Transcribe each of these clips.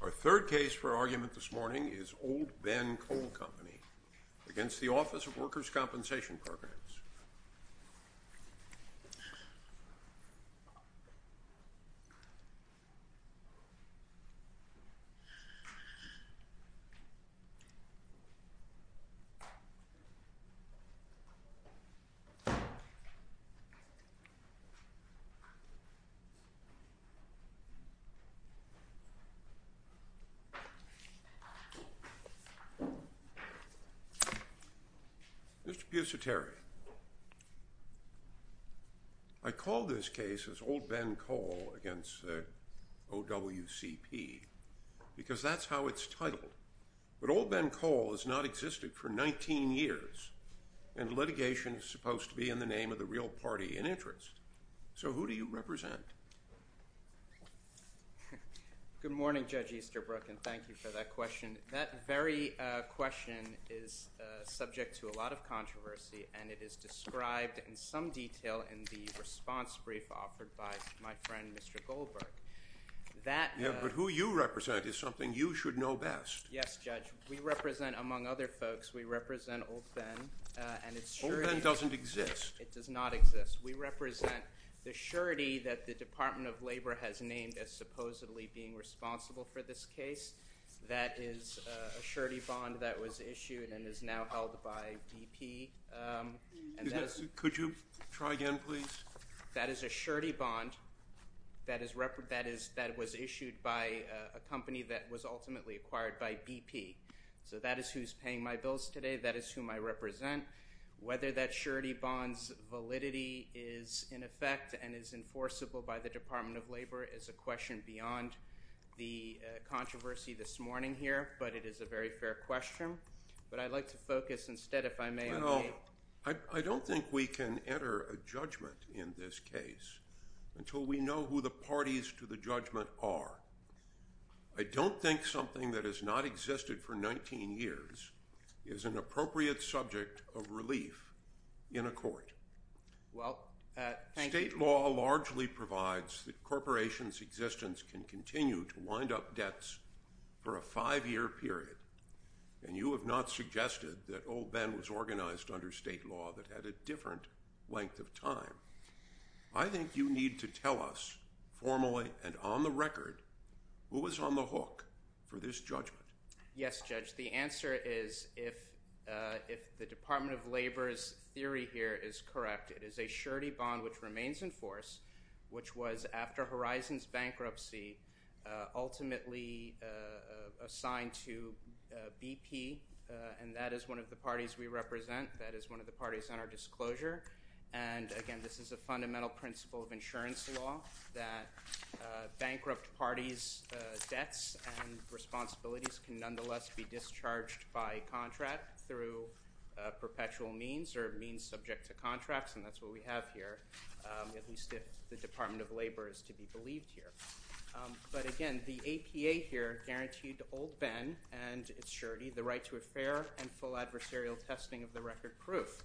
Our third case for argument this morning is Old Ben Coal Company v. Office of Workers' Compensation Programs. I call this case Old Ben Coal v. OWCP because that's how it's titled. But Old Ben Coal has not existed for 19 years, and litigation is supposed to be in the name of the real party in interest. So who do you represent? Good morning, Judge Easterbrook, and thank you for that question. That very question is subject to a lot of controversy, and it is described in some detail in the response brief offered by my friend Mr. Goldberg. But who you represent is something you should know best. Yes, Judge. We represent, among other folks, we represent Old Ben. Old Ben doesn't exist. It does not exist. We represent the surety that the Department of Labor has named as supposedly being responsible for this case. That is a surety bond that was issued and is now held by BP. Could you try again, please? That is a surety bond that was issued by a company that was ultimately acquired by BP. So that is who's paying my bills today. That is whom I represent. Whether that surety bond's validity is in effect and is enforceable by the Department of Labor is a question beyond the controversy this morning here, but it is a very fair question. But I'd like to focus instead, if I may. I don't think we can enter a judgment in this case until we know who the parties to the judgment are. I don't think something that has not existed for 19 years is an appropriate subject of relief in a court. State law largely provides that corporations' existence can continue to wind up debts for a five-year period. And you have not suggested that Old Ben was organized under state law that had a different length of time. I think you need to tell us formally and on the record who is on the hook for this judgment. Yes, Judge. The answer is if the Department of Labor's theory here is correct, it is a surety bond which remains in force, which was, after Horizons bankruptcy, ultimately assigned to BP. And that is one of the parties we represent. That is one of the parties on our disclosure. And, again, this is a fundamental principle of insurance law, that bankrupt parties' debts and responsibilities can nonetheless be discharged by contract through perpetual means or means subject to contracts. And that's what we have here, at least if the Department of Labor is to be believed here. But, again, the APA here guaranteed Old Ben and its surety the right to a fair and full adversarial testing of the record proof.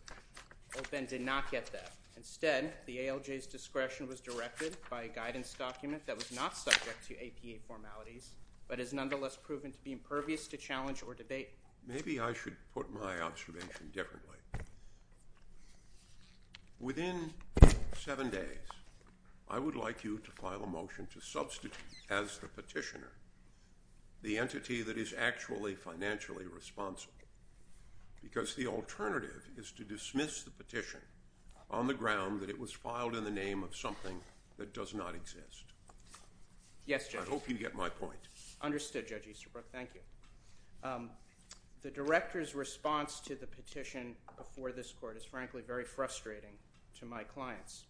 Old Ben did not get that. Instead, the ALJ's discretion was directed by a guidance document that was not subject to APA formalities, but is nonetheless proven to be impervious to challenge or debate. Maybe I should put my observation differently. Within seven days, I would like you to file a motion to substitute, as the petitioner, the entity that is actually financially responsible, because the alternative is to dismiss the petition on the ground that it was filed in the name of something that does not exist. Yes, Judge. I hope you get my point. Understood, Judge Easterbrook. Thank you. The director's response to the petition before this court is, frankly, very frustrating to my clients.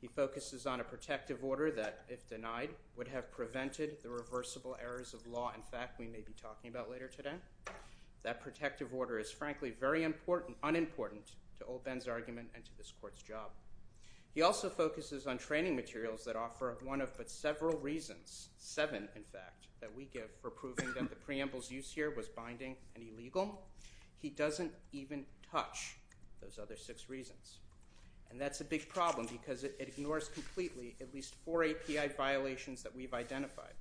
He focuses on a protective order that, if denied, would have prevented the reversible errors of law and fact we may be talking about later today. That protective order is, frankly, very unimportant to Old Ben's argument and to this court's job. He also focuses on training materials that offer one of but several reasons, seven, in fact, that we give for proving that the preamble's use here was binding and illegal. He doesn't even touch those other six reasons, and that's a big problem because it ignores completely at least four API violations that we've identified,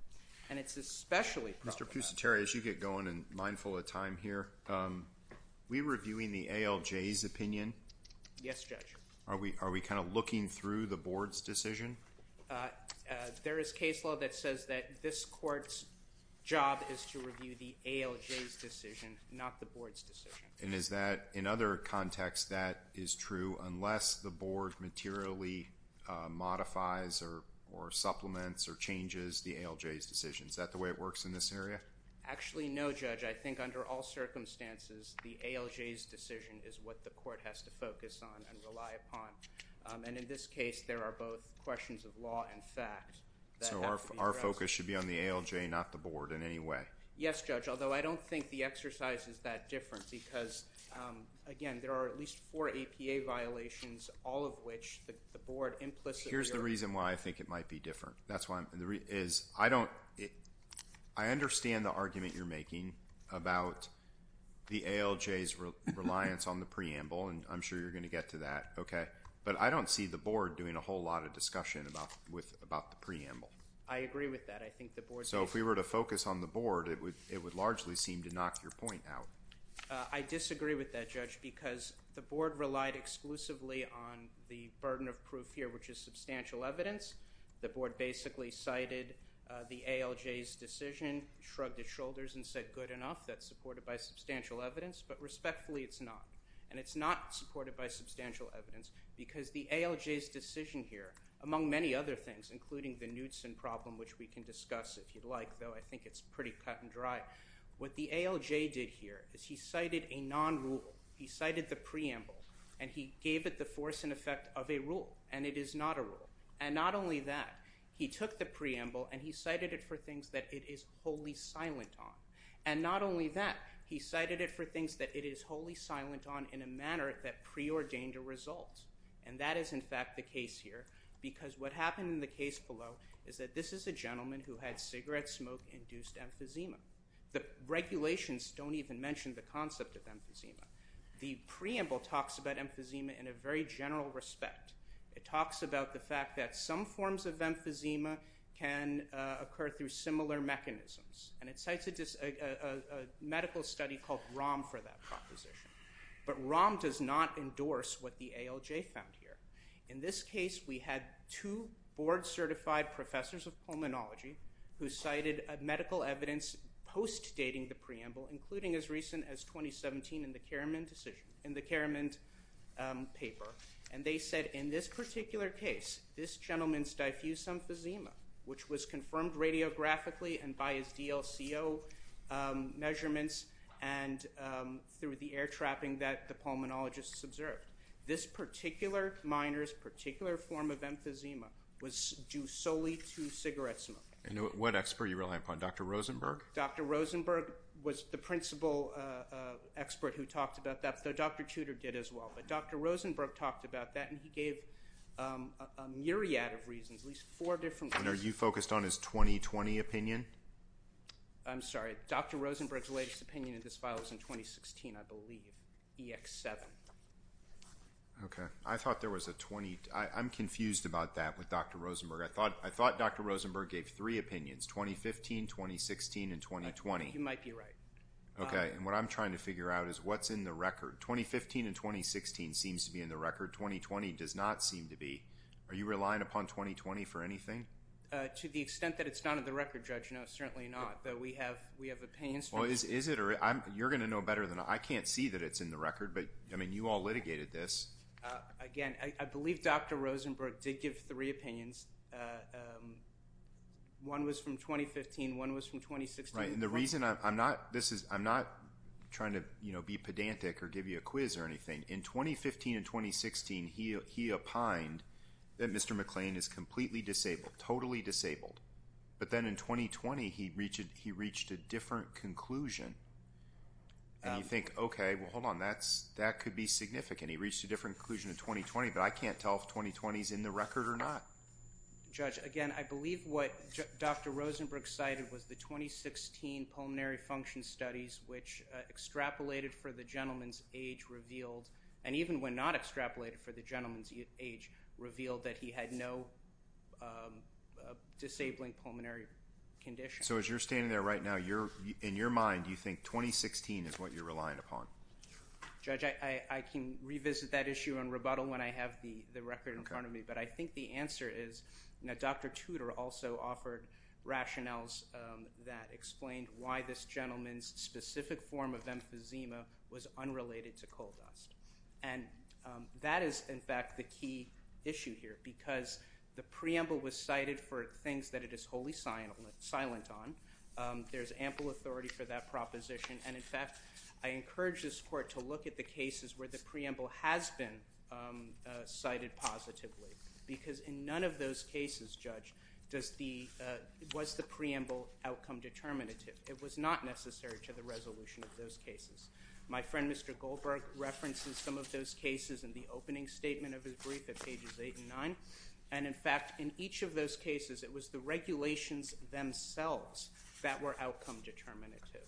and it's especially problematic. Mr. Pusateri, as you get going and mindful of time here, we're reviewing the ALJ's opinion. Yes, Judge. Are we kind of looking through the board's decision? There is case law that says that this court's job is to review the ALJ's decision, not the board's decision. And is that, in other contexts, that is true unless the board materially modifies or supplements or changes the ALJ's decision? Is that the way it works in this area? Actually, no, Judge. I think under all circumstances, the ALJ's decision is what the court has to focus on and rely upon. And in this case, there are both questions of law and fact that have to be addressed. So our focus should be on the ALJ, not the board in any way? Yes, Judge, although I don't think the exercise is that different because, again, there are at least four APA violations, all of which the board implicitly— Here's the reason why I think it might be different. I understand the argument you're making about the ALJ's reliance on the preamble, and I'm sure you're going to get to that. But I don't see the board doing a whole lot of discussion about the preamble. I agree with that. So if we were to focus on the board, it would largely seem to knock your point out. I disagree with that, Judge, because the board relied exclusively on the burden of proof here, which is substantial evidence. The board basically cited the ALJ's decision, shrugged its shoulders, and said good enough. That's supported by substantial evidence. But respectfully, it's not, and it's not supported by substantial evidence because the ALJ's decision here, among many other things, including the Knudsen problem, which we can discuss if you'd like, though I think it's pretty cut and dry. What the ALJ did here is he cited a non-rule. He cited the preamble, and he gave it the force and effect of a rule, and it is not a rule. And not only that, he took the preamble and he cited it for things that it is wholly silent on. And not only that, he cited it for things that it is wholly silent on in a manner that preordained a result. And that is, in fact, the case here because what happened in the case below is that this is a gentleman who had cigarette smoke-induced emphysema. The regulations don't even mention the concept of emphysema. The preamble talks about emphysema in a very general respect. It talks about the fact that some forms of emphysema can occur through similar mechanisms, and it cites a medical study called ROM for that proposition. But ROM does not endorse what the ALJ found here. In this case, we had two board-certified professors of pulmonology who cited medical evidence post-dating the preamble, including as recent as 2017 in the Karamand paper. And they said in this particular case, this gentleman's diffuse emphysema, which was confirmed radiographically and by his DLCO measurements and through the air trapping that the pulmonologists observed, this particular minor's particular form of emphysema was due solely to cigarette smoking. And what expert are you relying upon, Dr. Rosenberg? Dr. Rosenberg was the principal expert who talked about that, though Dr. Tudor did as well. But Dr. Rosenberg talked about that, and he gave a myriad of reasons, at least four different reasons. And are you focused on his 2020 opinion? I'm sorry. Dr. Rosenberg's latest opinion in this file was in 2016, I believe, EX-7. Okay. I thought there was a 20—I'm confused about that with Dr. Rosenberg. I thought Dr. Rosenberg gave three opinions, 2015, 2016, and 2020. You might be right. Okay. And what I'm trying to figure out is what's in the record. 2015 and 2016 seems to be in the record. 2020 does not seem to be. Are you relying upon 2020 for anything? To the extent that it's not in the record, Judge, no, certainly not. But we have opinions. Well, is it? You're going to know better than I. I can't see that it's in the record, but, I mean, you all litigated this. Again, I believe Dr. Rosenberg did give three opinions. One was from 2015. One was from 2016. Right. And the reason I'm not—this is—I'm not trying to, you know, be pedantic or give you a quiz or anything. In 2015 and 2016, he opined that Mr. McLean is completely disabled, totally disabled. But then in 2020, he reached a different conclusion. And you think, okay, well, hold on. That could be significant. He reached a different conclusion in 2020, but I can't tell if 2020 is in the record or not. Judge, again, I believe what Dr. Rosenberg cited was the 2016 pulmonary function studies, which extrapolated for the gentleman's age revealed—and even when not extrapolated for the gentleman's age— revealed that he had no disabling pulmonary condition. So as you're standing there right now, in your mind, do you think 2016 is what you're relying upon? Judge, I can revisit that issue and rebuttal when I have the record in front of me. But I think the answer is—now, Dr. Tudor also offered rationales that explained why this gentleman's specific form of emphysema was unrelated to coal dust. And that is, in fact, the key issue here because the preamble was cited for things that it is wholly silent on. There's ample authority for that proposition. And, in fact, I encourage this Court to look at the cases where the preamble has been cited positively because in none of those cases, Judge, was the preamble outcome determinative. It was not necessary to the resolution of those cases. My friend, Mr. Goldberg, references some of those cases in the opening statement of his brief at pages 8 and 9. And, in fact, in each of those cases, it was the regulations themselves that were outcome determinative.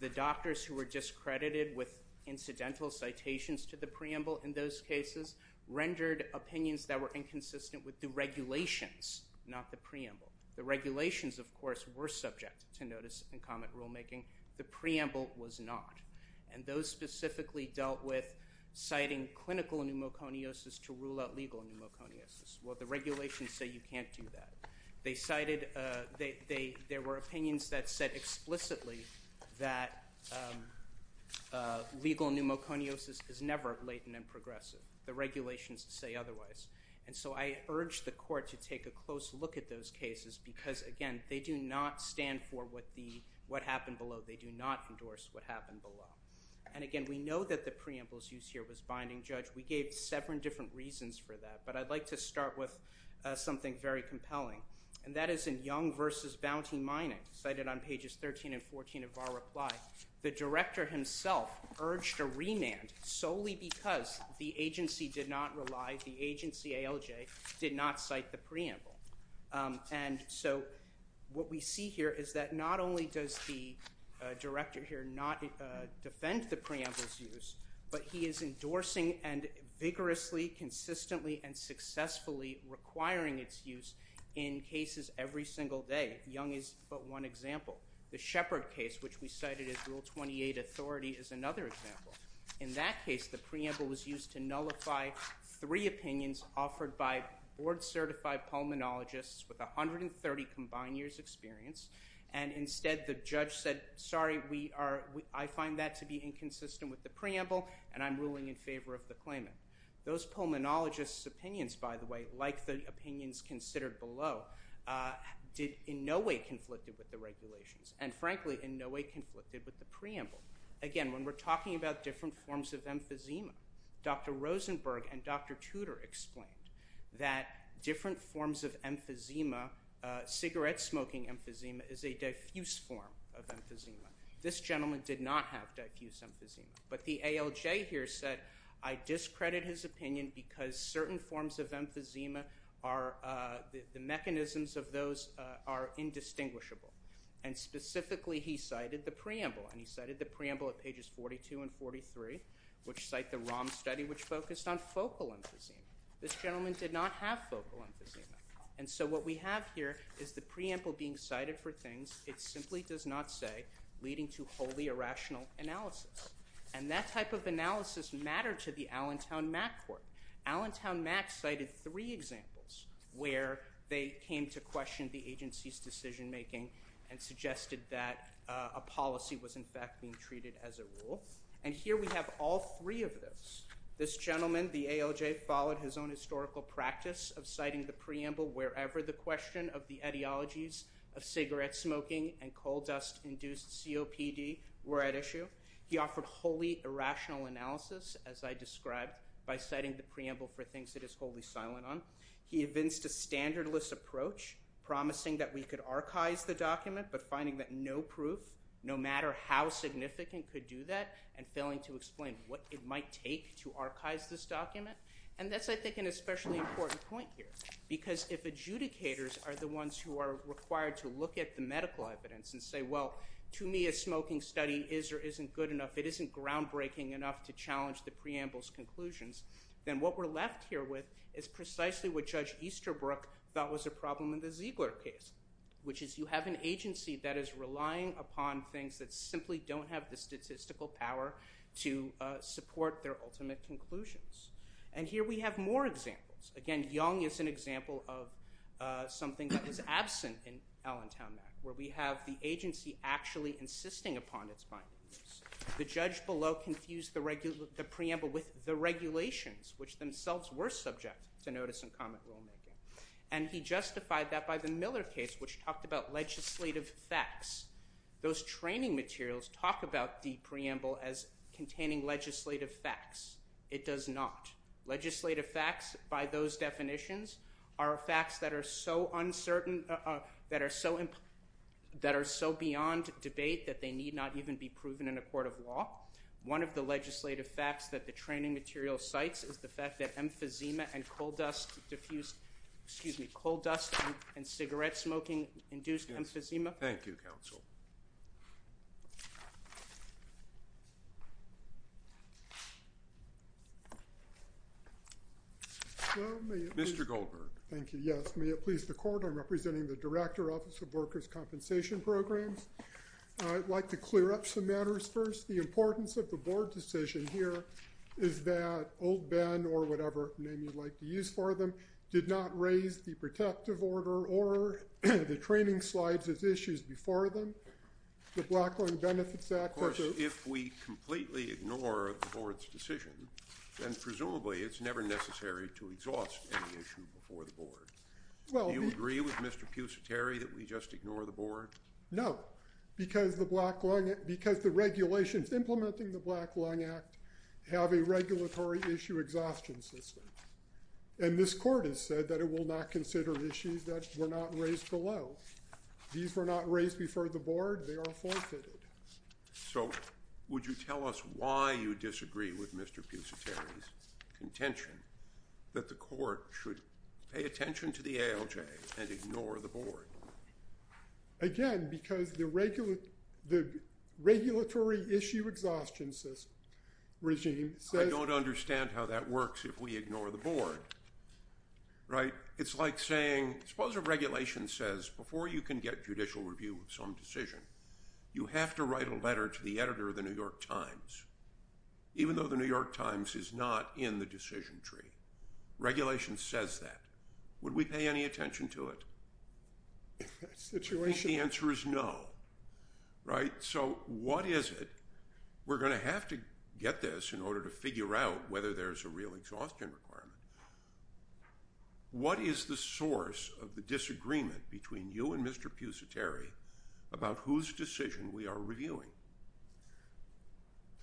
The doctors who were discredited with incidental citations to the preamble in those cases rendered opinions that were inconsistent with the regulations, not the preamble. The regulations, of course, were subject to notice and comment rulemaking. The preamble was not. And those specifically dealt with citing clinical pneumoconiosis to rule out legal pneumoconiosis. Well, the regulations say you can't do that. There were opinions that said explicitly that legal pneumoconiosis is never latent and progressive. The regulations say otherwise. And so I urge the Court to take a close look at those cases because, again, they do not stand for what happened below. They do not endorse what happened below. And, again, we know that the preamble's use here was binding, Judge. We gave several different reasons for that, but I'd like to start with something very compelling. And that is in Young v. Bounty Mining, cited on pages 13 and 14 of our reply. The director himself urged a remand solely because the agency did not rely, the agency ALJ, did not cite the preamble. And so what we see here is that not only does the director here not defend the preamble's use, but he is endorsing and vigorously, consistently, and successfully requiring its use in cases every single day. Young is but one example. The Shepard case, which we cited as Rule 28 authority, is another example. In that case, the preamble was used to nullify three opinions offered by board-certified pulmonologists with 130 combined years' experience. And, instead, the judge said, sorry, I find that to be inconsistent with the preamble, and I'm ruling in favor of the claimant. Those pulmonologists' opinions, by the way, like the opinions considered below, did in no way conflicted with the regulations, and, frankly, in no way conflicted with the preamble. Again, when we're talking about different forms of emphysema, Dr. Rosenberg and Dr. Tudor explained that different forms of emphysema, cigarette-smoking emphysema, is a diffuse form of emphysema. This gentleman did not have diffuse emphysema. But the ALJ here said, I discredit his opinion because certain forms of emphysema are, the mechanisms of those are indistinguishable. And, specifically, he cited the preamble. And he cited the preamble at pages 42 and 43, which cite the ROM study, which focused on focal emphysema. This gentleman did not have focal emphysema. And so what we have here is the preamble being cited for things it simply does not say, leading to wholly irrational analysis. And that type of analysis mattered to the Allentown MAC Court. Allentown MAC cited three examples where they came to question the agency's decision-making and suggested that a policy was, in fact, being treated as a rule. And here we have all three of those. This gentleman, the ALJ, followed his own historical practice of citing the preamble wherever the question of the etiologies of cigarette-smoking and coal-dust-induced COPD were at issue. He offered wholly irrational analysis, as I described, by citing the preamble for things it is wholly silent on. He evinced a standardless approach, promising that we could archive the document, but finding that no proof, no matter how significant, could do that, and failing to explain what it might take to archive this document. And that's, I think, an especially important point here, because if adjudicators are the ones who are required to look at the medical evidence and say, well, to me, a smoking study is or isn't good enough, it isn't groundbreaking enough to challenge the preamble's conclusions, then what we're left here with is precisely what Judge Easterbrook thought was a problem in the Ziegler case, which is you have an agency that is relying upon things that simply don't have the statistical power to support their ultimate conclusions. And here we have more examples. Again, Young is an example of something that was absent in Allentown Act, where we have the agency actually insisting upon its findings. The judge below confused the preamble with the regulations, which themselves were subject to notice and comment rulemaking. And he justified that by the Miller case, which talked about legislative facts. Those training materials talk about the preamble as containing legislative facts. It does not. Legislative facts, by those definitions, are facts that are so uncertain, that are so beyond debate that they need not even be proven in a court of law. One of the legislative facts that the training material cites is the fact that emphysema and coal dust diffused, excuse me, coal dust and cigarette smoking induced emphysema. Thank you, counsel. Mr. Goldberg. Thank you, yes. May it please the court, I'm representing the Director, Office of Workers' Compensation Programs. I'd like to clear up some matters first. The importance of the board decision here is that Old Ben, or whatever name you'd like to use for them, did not raise the protective order or the training slides as issues before them. The Blacklin Benefits Act. Of course, if we completely ignore the board's decision, then presumably it's never necessary to exhaust any issue before the board. Do you agree with Mr. Pucetary that we just ignore the board? No. Because the regulations implementing the Blacklin Act have a regulatory issue exhaustion system. And this court has said that it will not consider issues that were not raised below. These were not raised before the board. They are forfeited. So, would you tell us why you disagree with Mr. Pucetary's contention that the court should pay attention to the ALJ and ignore the board? Again, because the regulatory issue exhaustion regime says... I don't understand how that works if we ignore the board. Right? It's like saying, suppose a regulation says before you can get judicial review of some decision, you have to write a letter to the editor of the New York Times. Even though the New York Times is not in the decision tree. Regulation says that. Would we pay any attention to it? I think the answer is no. Right? So, what is it? We're going to have to get this in order to figure out whether there's a real exhaustion requirement. What is the source of the disagreement between you and Mr. Pucetary about whose decision we are reviewing?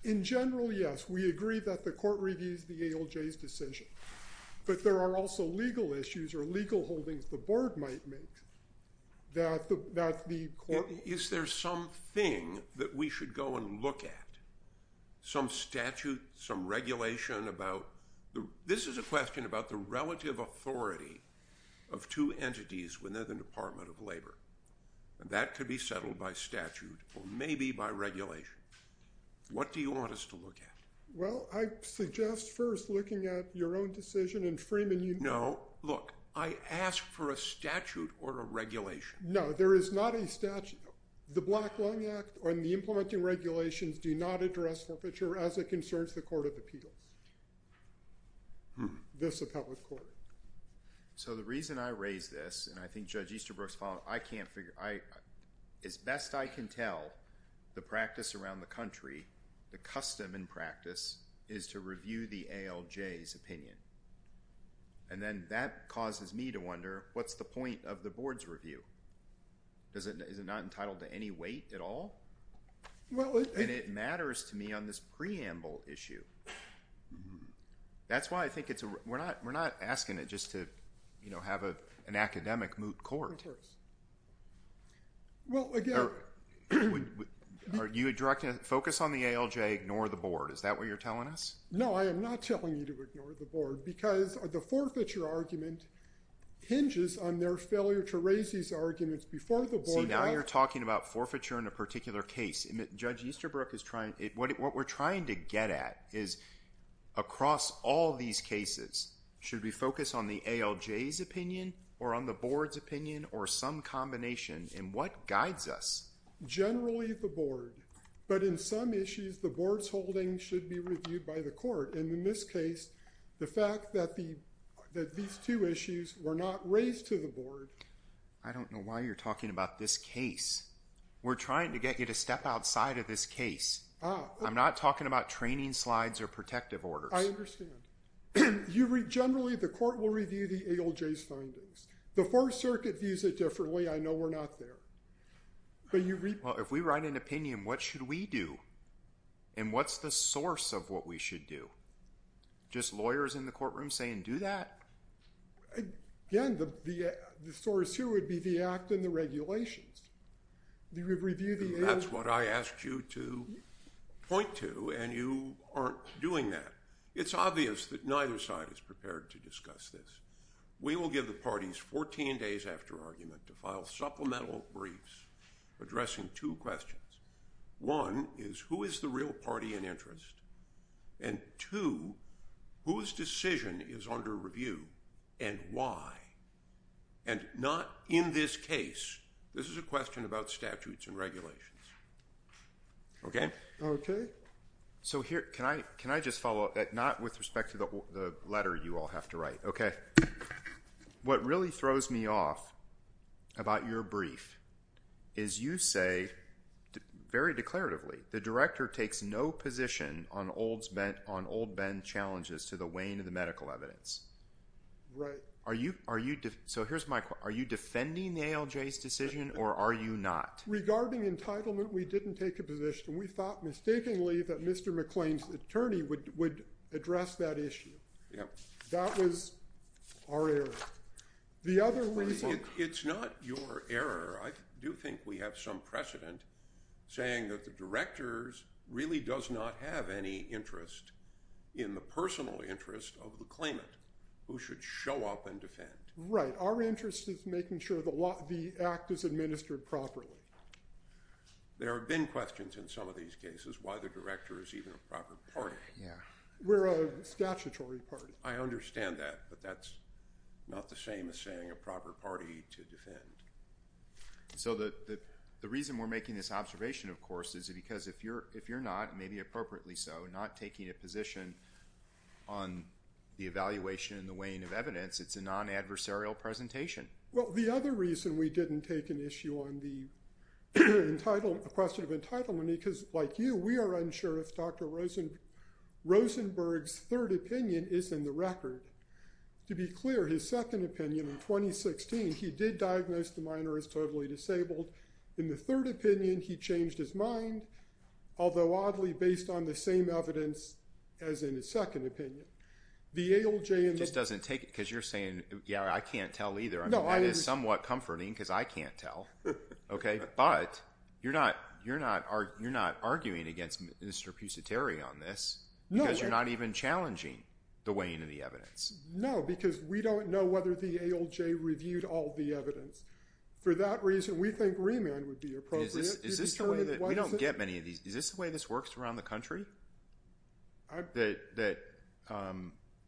In general, yes. We agree that the court reviews the ALJ's decision. But there are also legal issues or legal holdings the board might make that the court... Is there something that we should go and look at? Some statute, some regulation about... This is a question about the relative authority of two entities within the Department of Labor. That could be settled by statute or maybe by regulation. What do you want us to look at? Well, I suggest first looking at your own decision and Freeman, you... No. Look, I asked for a statute or a regulation. No, there is not a statute. The Black Lung Act and the implementing regulations do not address forfeiture as it concerns the Court of Appeals. This appellate court. So, the reason I raise this, and I think Judge Easterbrook's following, I can't figure... As best I can tell, the practice around the country, the custom and practice is to review the ALJ's opinion. And then that causes me to wonder, what's the point of the board's review? Is it not entitled to any weight at all? And it matters to me on this preamble issue. That's why I think it's... We're not asking it just to, you know, have an academic moot court. Of course. Well, again... Are you directing a focus on the ALJ, ignore the board? Is that what you're telling us? No, I am not telling you to ignore the board because the forfeiture argument hinges on their failure to raise these arguments before the board... See, now you're talking about forfeiture in a particular case. Judge Easterbrook is trying... What we're trying to get at is, across all these cases, should we focus on the ALJ's opinion or on the board's opinion or some combination? And what guides us? Generally, the board. But in some issues, the board's holding should be reviewed by the court. And in this case, the fact that these two issues were not raised to the board... I don't know why you're talking about this case. We're trying to get you to step outside of this case. I'm not talking about training slides or protective orders. I understand. Generally, the court will review the ALJ's findings. The Fourth Circuit views it differently. I know we're not there. But you... Well, if we write an opinion, what should we do? And what's the source of what we should do? Just lawyers in the courtroom saying, do that? Again, the source here would be the act and the regulations. We would review the ALJ... That's what I asked you to point to, and you aren't doing that. It's obvious that neither side is prepared to discuss this. We will give the parties 14 days after argument to file supplemental briefs addressing two questions. One is, who is the real party in interest? And two, whose decision is under review and why? And not in this case. This is a question about statutes and regulations. Okay? Okay. So here, can I just follow up? Not with respect to the letter you all have to write, okay? What really throws me off about your brief is you say, very declaratively, the Director takes no position on Old Ben's challenges to the wane of the medical evidence. Right. Are you... So here's my question. Are you defending the ALJ's decision, or are you not? Regarding entitlement, we didn't take a position. We thought mistakenly that Mr. McClain's attorney would address that issue. Yep. That was our error. The other reason... It's not your error. I do think we have some precedent saying that the Director really does not have any interest in the personal interest of the claimant who should show up and defend. Right. Our interest is making sure the act is administered properly. There have been questions in some of these cases why the Director is even a proper party. Yeah. We're a statutory party. I understand that, but that's not the same as saying a proper party to defend. So the reason we're making this observation, of course, is because if you're not, maybe appropriately so, not taking a position on the evaluation and the wane of evidence, it's a non-adversarial presentation. Well, the other reason we didn't take an issue on the question of entitlement, because like you, we are unsure if Dr. Rosenberg's third opinion is in the record. To be clear, his second opinion in 2016, he did diagnose the minor as totally disabled. In the third opinion, he changed his mind, although oddly based on the same evidence as in his second opinion. It just doesn't take it, because you're saying, yeah, I can't tell either. That is somewhat comforting, because I can't tell. But you're not arguing against Mr. Pusateri on this, because you're not even challenging the wane of the evidence. No, because we don't know whether the ALJ reviewed all the evidence. For that reason, we think remand would be appropriate. We don't get many of these. Is this the way this works around the country? That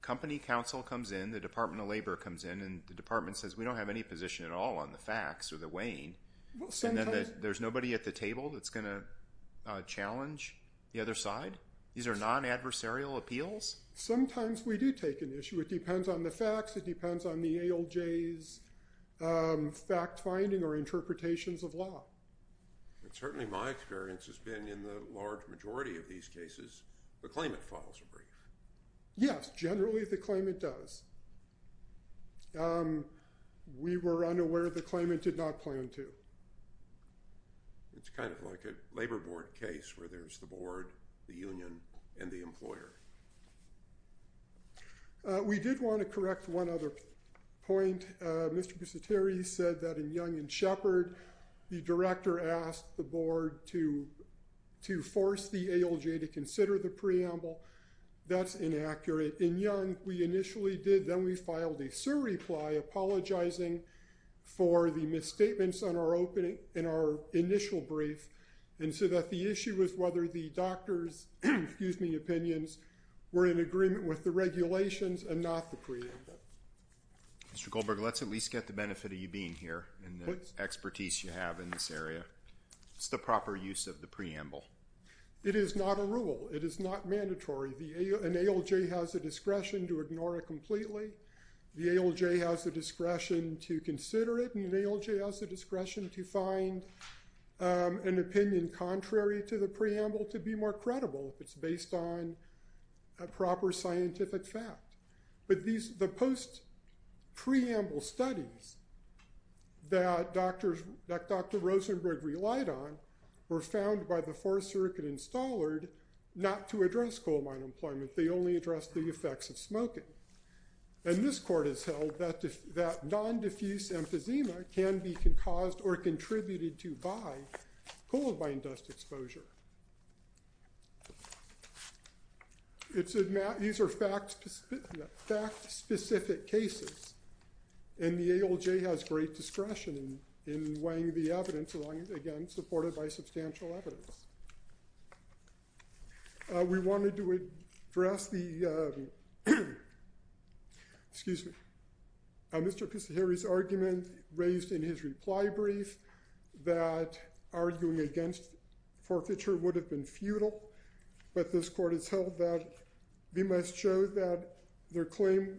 company counsel comes in, the Department of Labor comes in, and the department says, we don't have any position at all on the facts or the wane, and then there's nobody at the table that's going to challenge the other side? These are non-adversarial appeals? Sometimes we do take an issue. It depends on the facts. It depends on the ALJ's fact-finding or interpretations of law. Certainly my experience has been in the large majority of these cases, the claimant follows a brief. Yes, generally the claimant does. We were unaware the claimant did not plan to. It's kind of like a labor board case where there's the board, the union, and the employer. We did want to correct one other point. Mr. Busateri said that in Young and Shepard, the director asked the board to force the ALJ to consider the preamble. That's inaccurate. In Young, we initially did. Then we filed a surreply apologizing for the misstatements in our initial brief, and so that the issue was whether the doctor's opinions were in agreement with the regulations and not the preamble. Mr. Goldberg, let's at least get the benefit of you being here and the expertise you have in this area. It's the proper use of the preamble. It is not a rule. It is not mandatory. An ALJ has the discretion to ignore it completely. The ALJ has the discretion to consider it, and an ALJ has the discretion to find an opinion contrary to the preamble to be more credible if it's based on a proper scientific fact. The post-preamble studies that Dr. Rosenberg relied on were found by the Fourth Circuit installer not to address coal mine employment. They only addressed the effects of smoking, and this court has held that non-diffuse emphysema can be caused or contributed to by coal mine dust exposure. These are fact-specific cases, and the ALJ has great discretion in weighing the evidence, again, supported by substantial evidence. We wanted to address the—excuse me—Mr. Kisaheri's argument raised in his reply brief that arguing against forfeiture would have been futile, but this court has held that we must show that their claim—in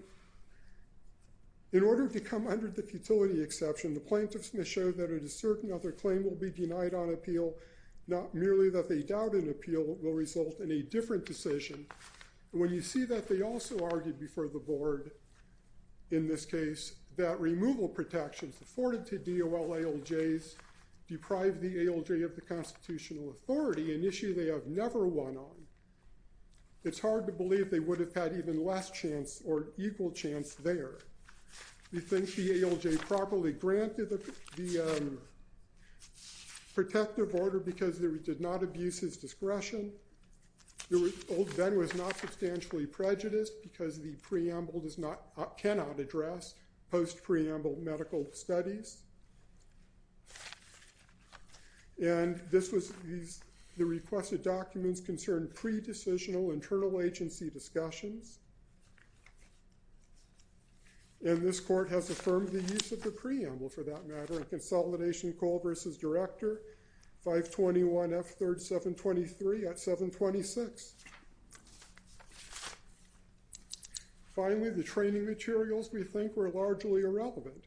order to come under the futility exception, the plaintiffs must show that a certain other claim will be denied on appeal, not merely that they doubt an appeal will result in a different decision. When you see that, they also argued before the board in this case that removal protections afforded to DOL ALJs deprive the ALJ of the constitutional authority, an issue they have never won on. It's hard to believe they would have had even less chance or equal chance there. We think the ALJ properly granted the protective order because it did not abuse his discretion. Old Ben was not substantially prejudiced because the preamble does not—cannot address post-preamble medical studies, and this was—the requested documents concerned pre-decisional internal agency discussions, and this court has affirmed the use of the preamble, for that matter, in Consolidation Call v. Director 521 F. 3rd. 723 at 726. Finally, the training materials, we think, were largely irrelevant.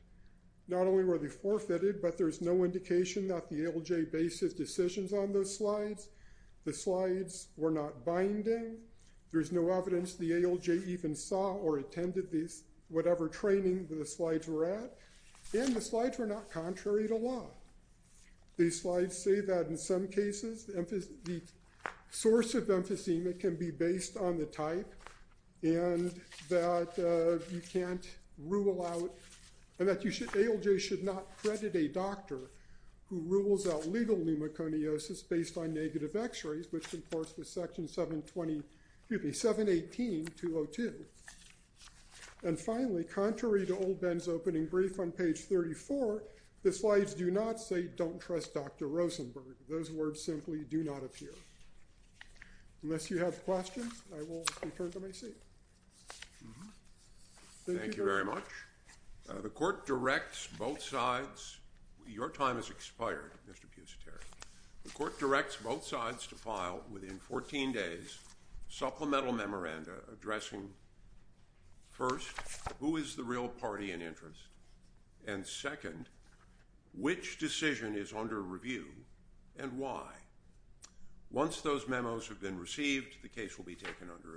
Not only were they forfeited, but there's no indication that the ALJ based his decisions on those slides. The slides were not binding. There's no evidence the ALJ even saw or attended these—whatever training the slides were at, and the slides were not contrary to law. These slides say that, in some cases, the source of emphysema can be based on the type and that you can't rule out— and that you should—ALJ should not credit a doctor who rules out legal pneumoconiosis based on negative x-rays, which concords with Section 720—excuse me, 718.202. And finally, contrary to Old Ben's opening brief on page 34, the slides do not say, don't trust Dr. Rosenberg. Those words simply do not appear. Unless you have questions, I will return to my seat. Thank you very much. The court directs both sides—your time has expired, Mr. Pusiteri. The court directs both sides to file, within 14 days, supplemental memoranda addressing, first, who is the real party in interest, and second, which decision is under review and why. Once those memos have been received, the case will be taken under advisement.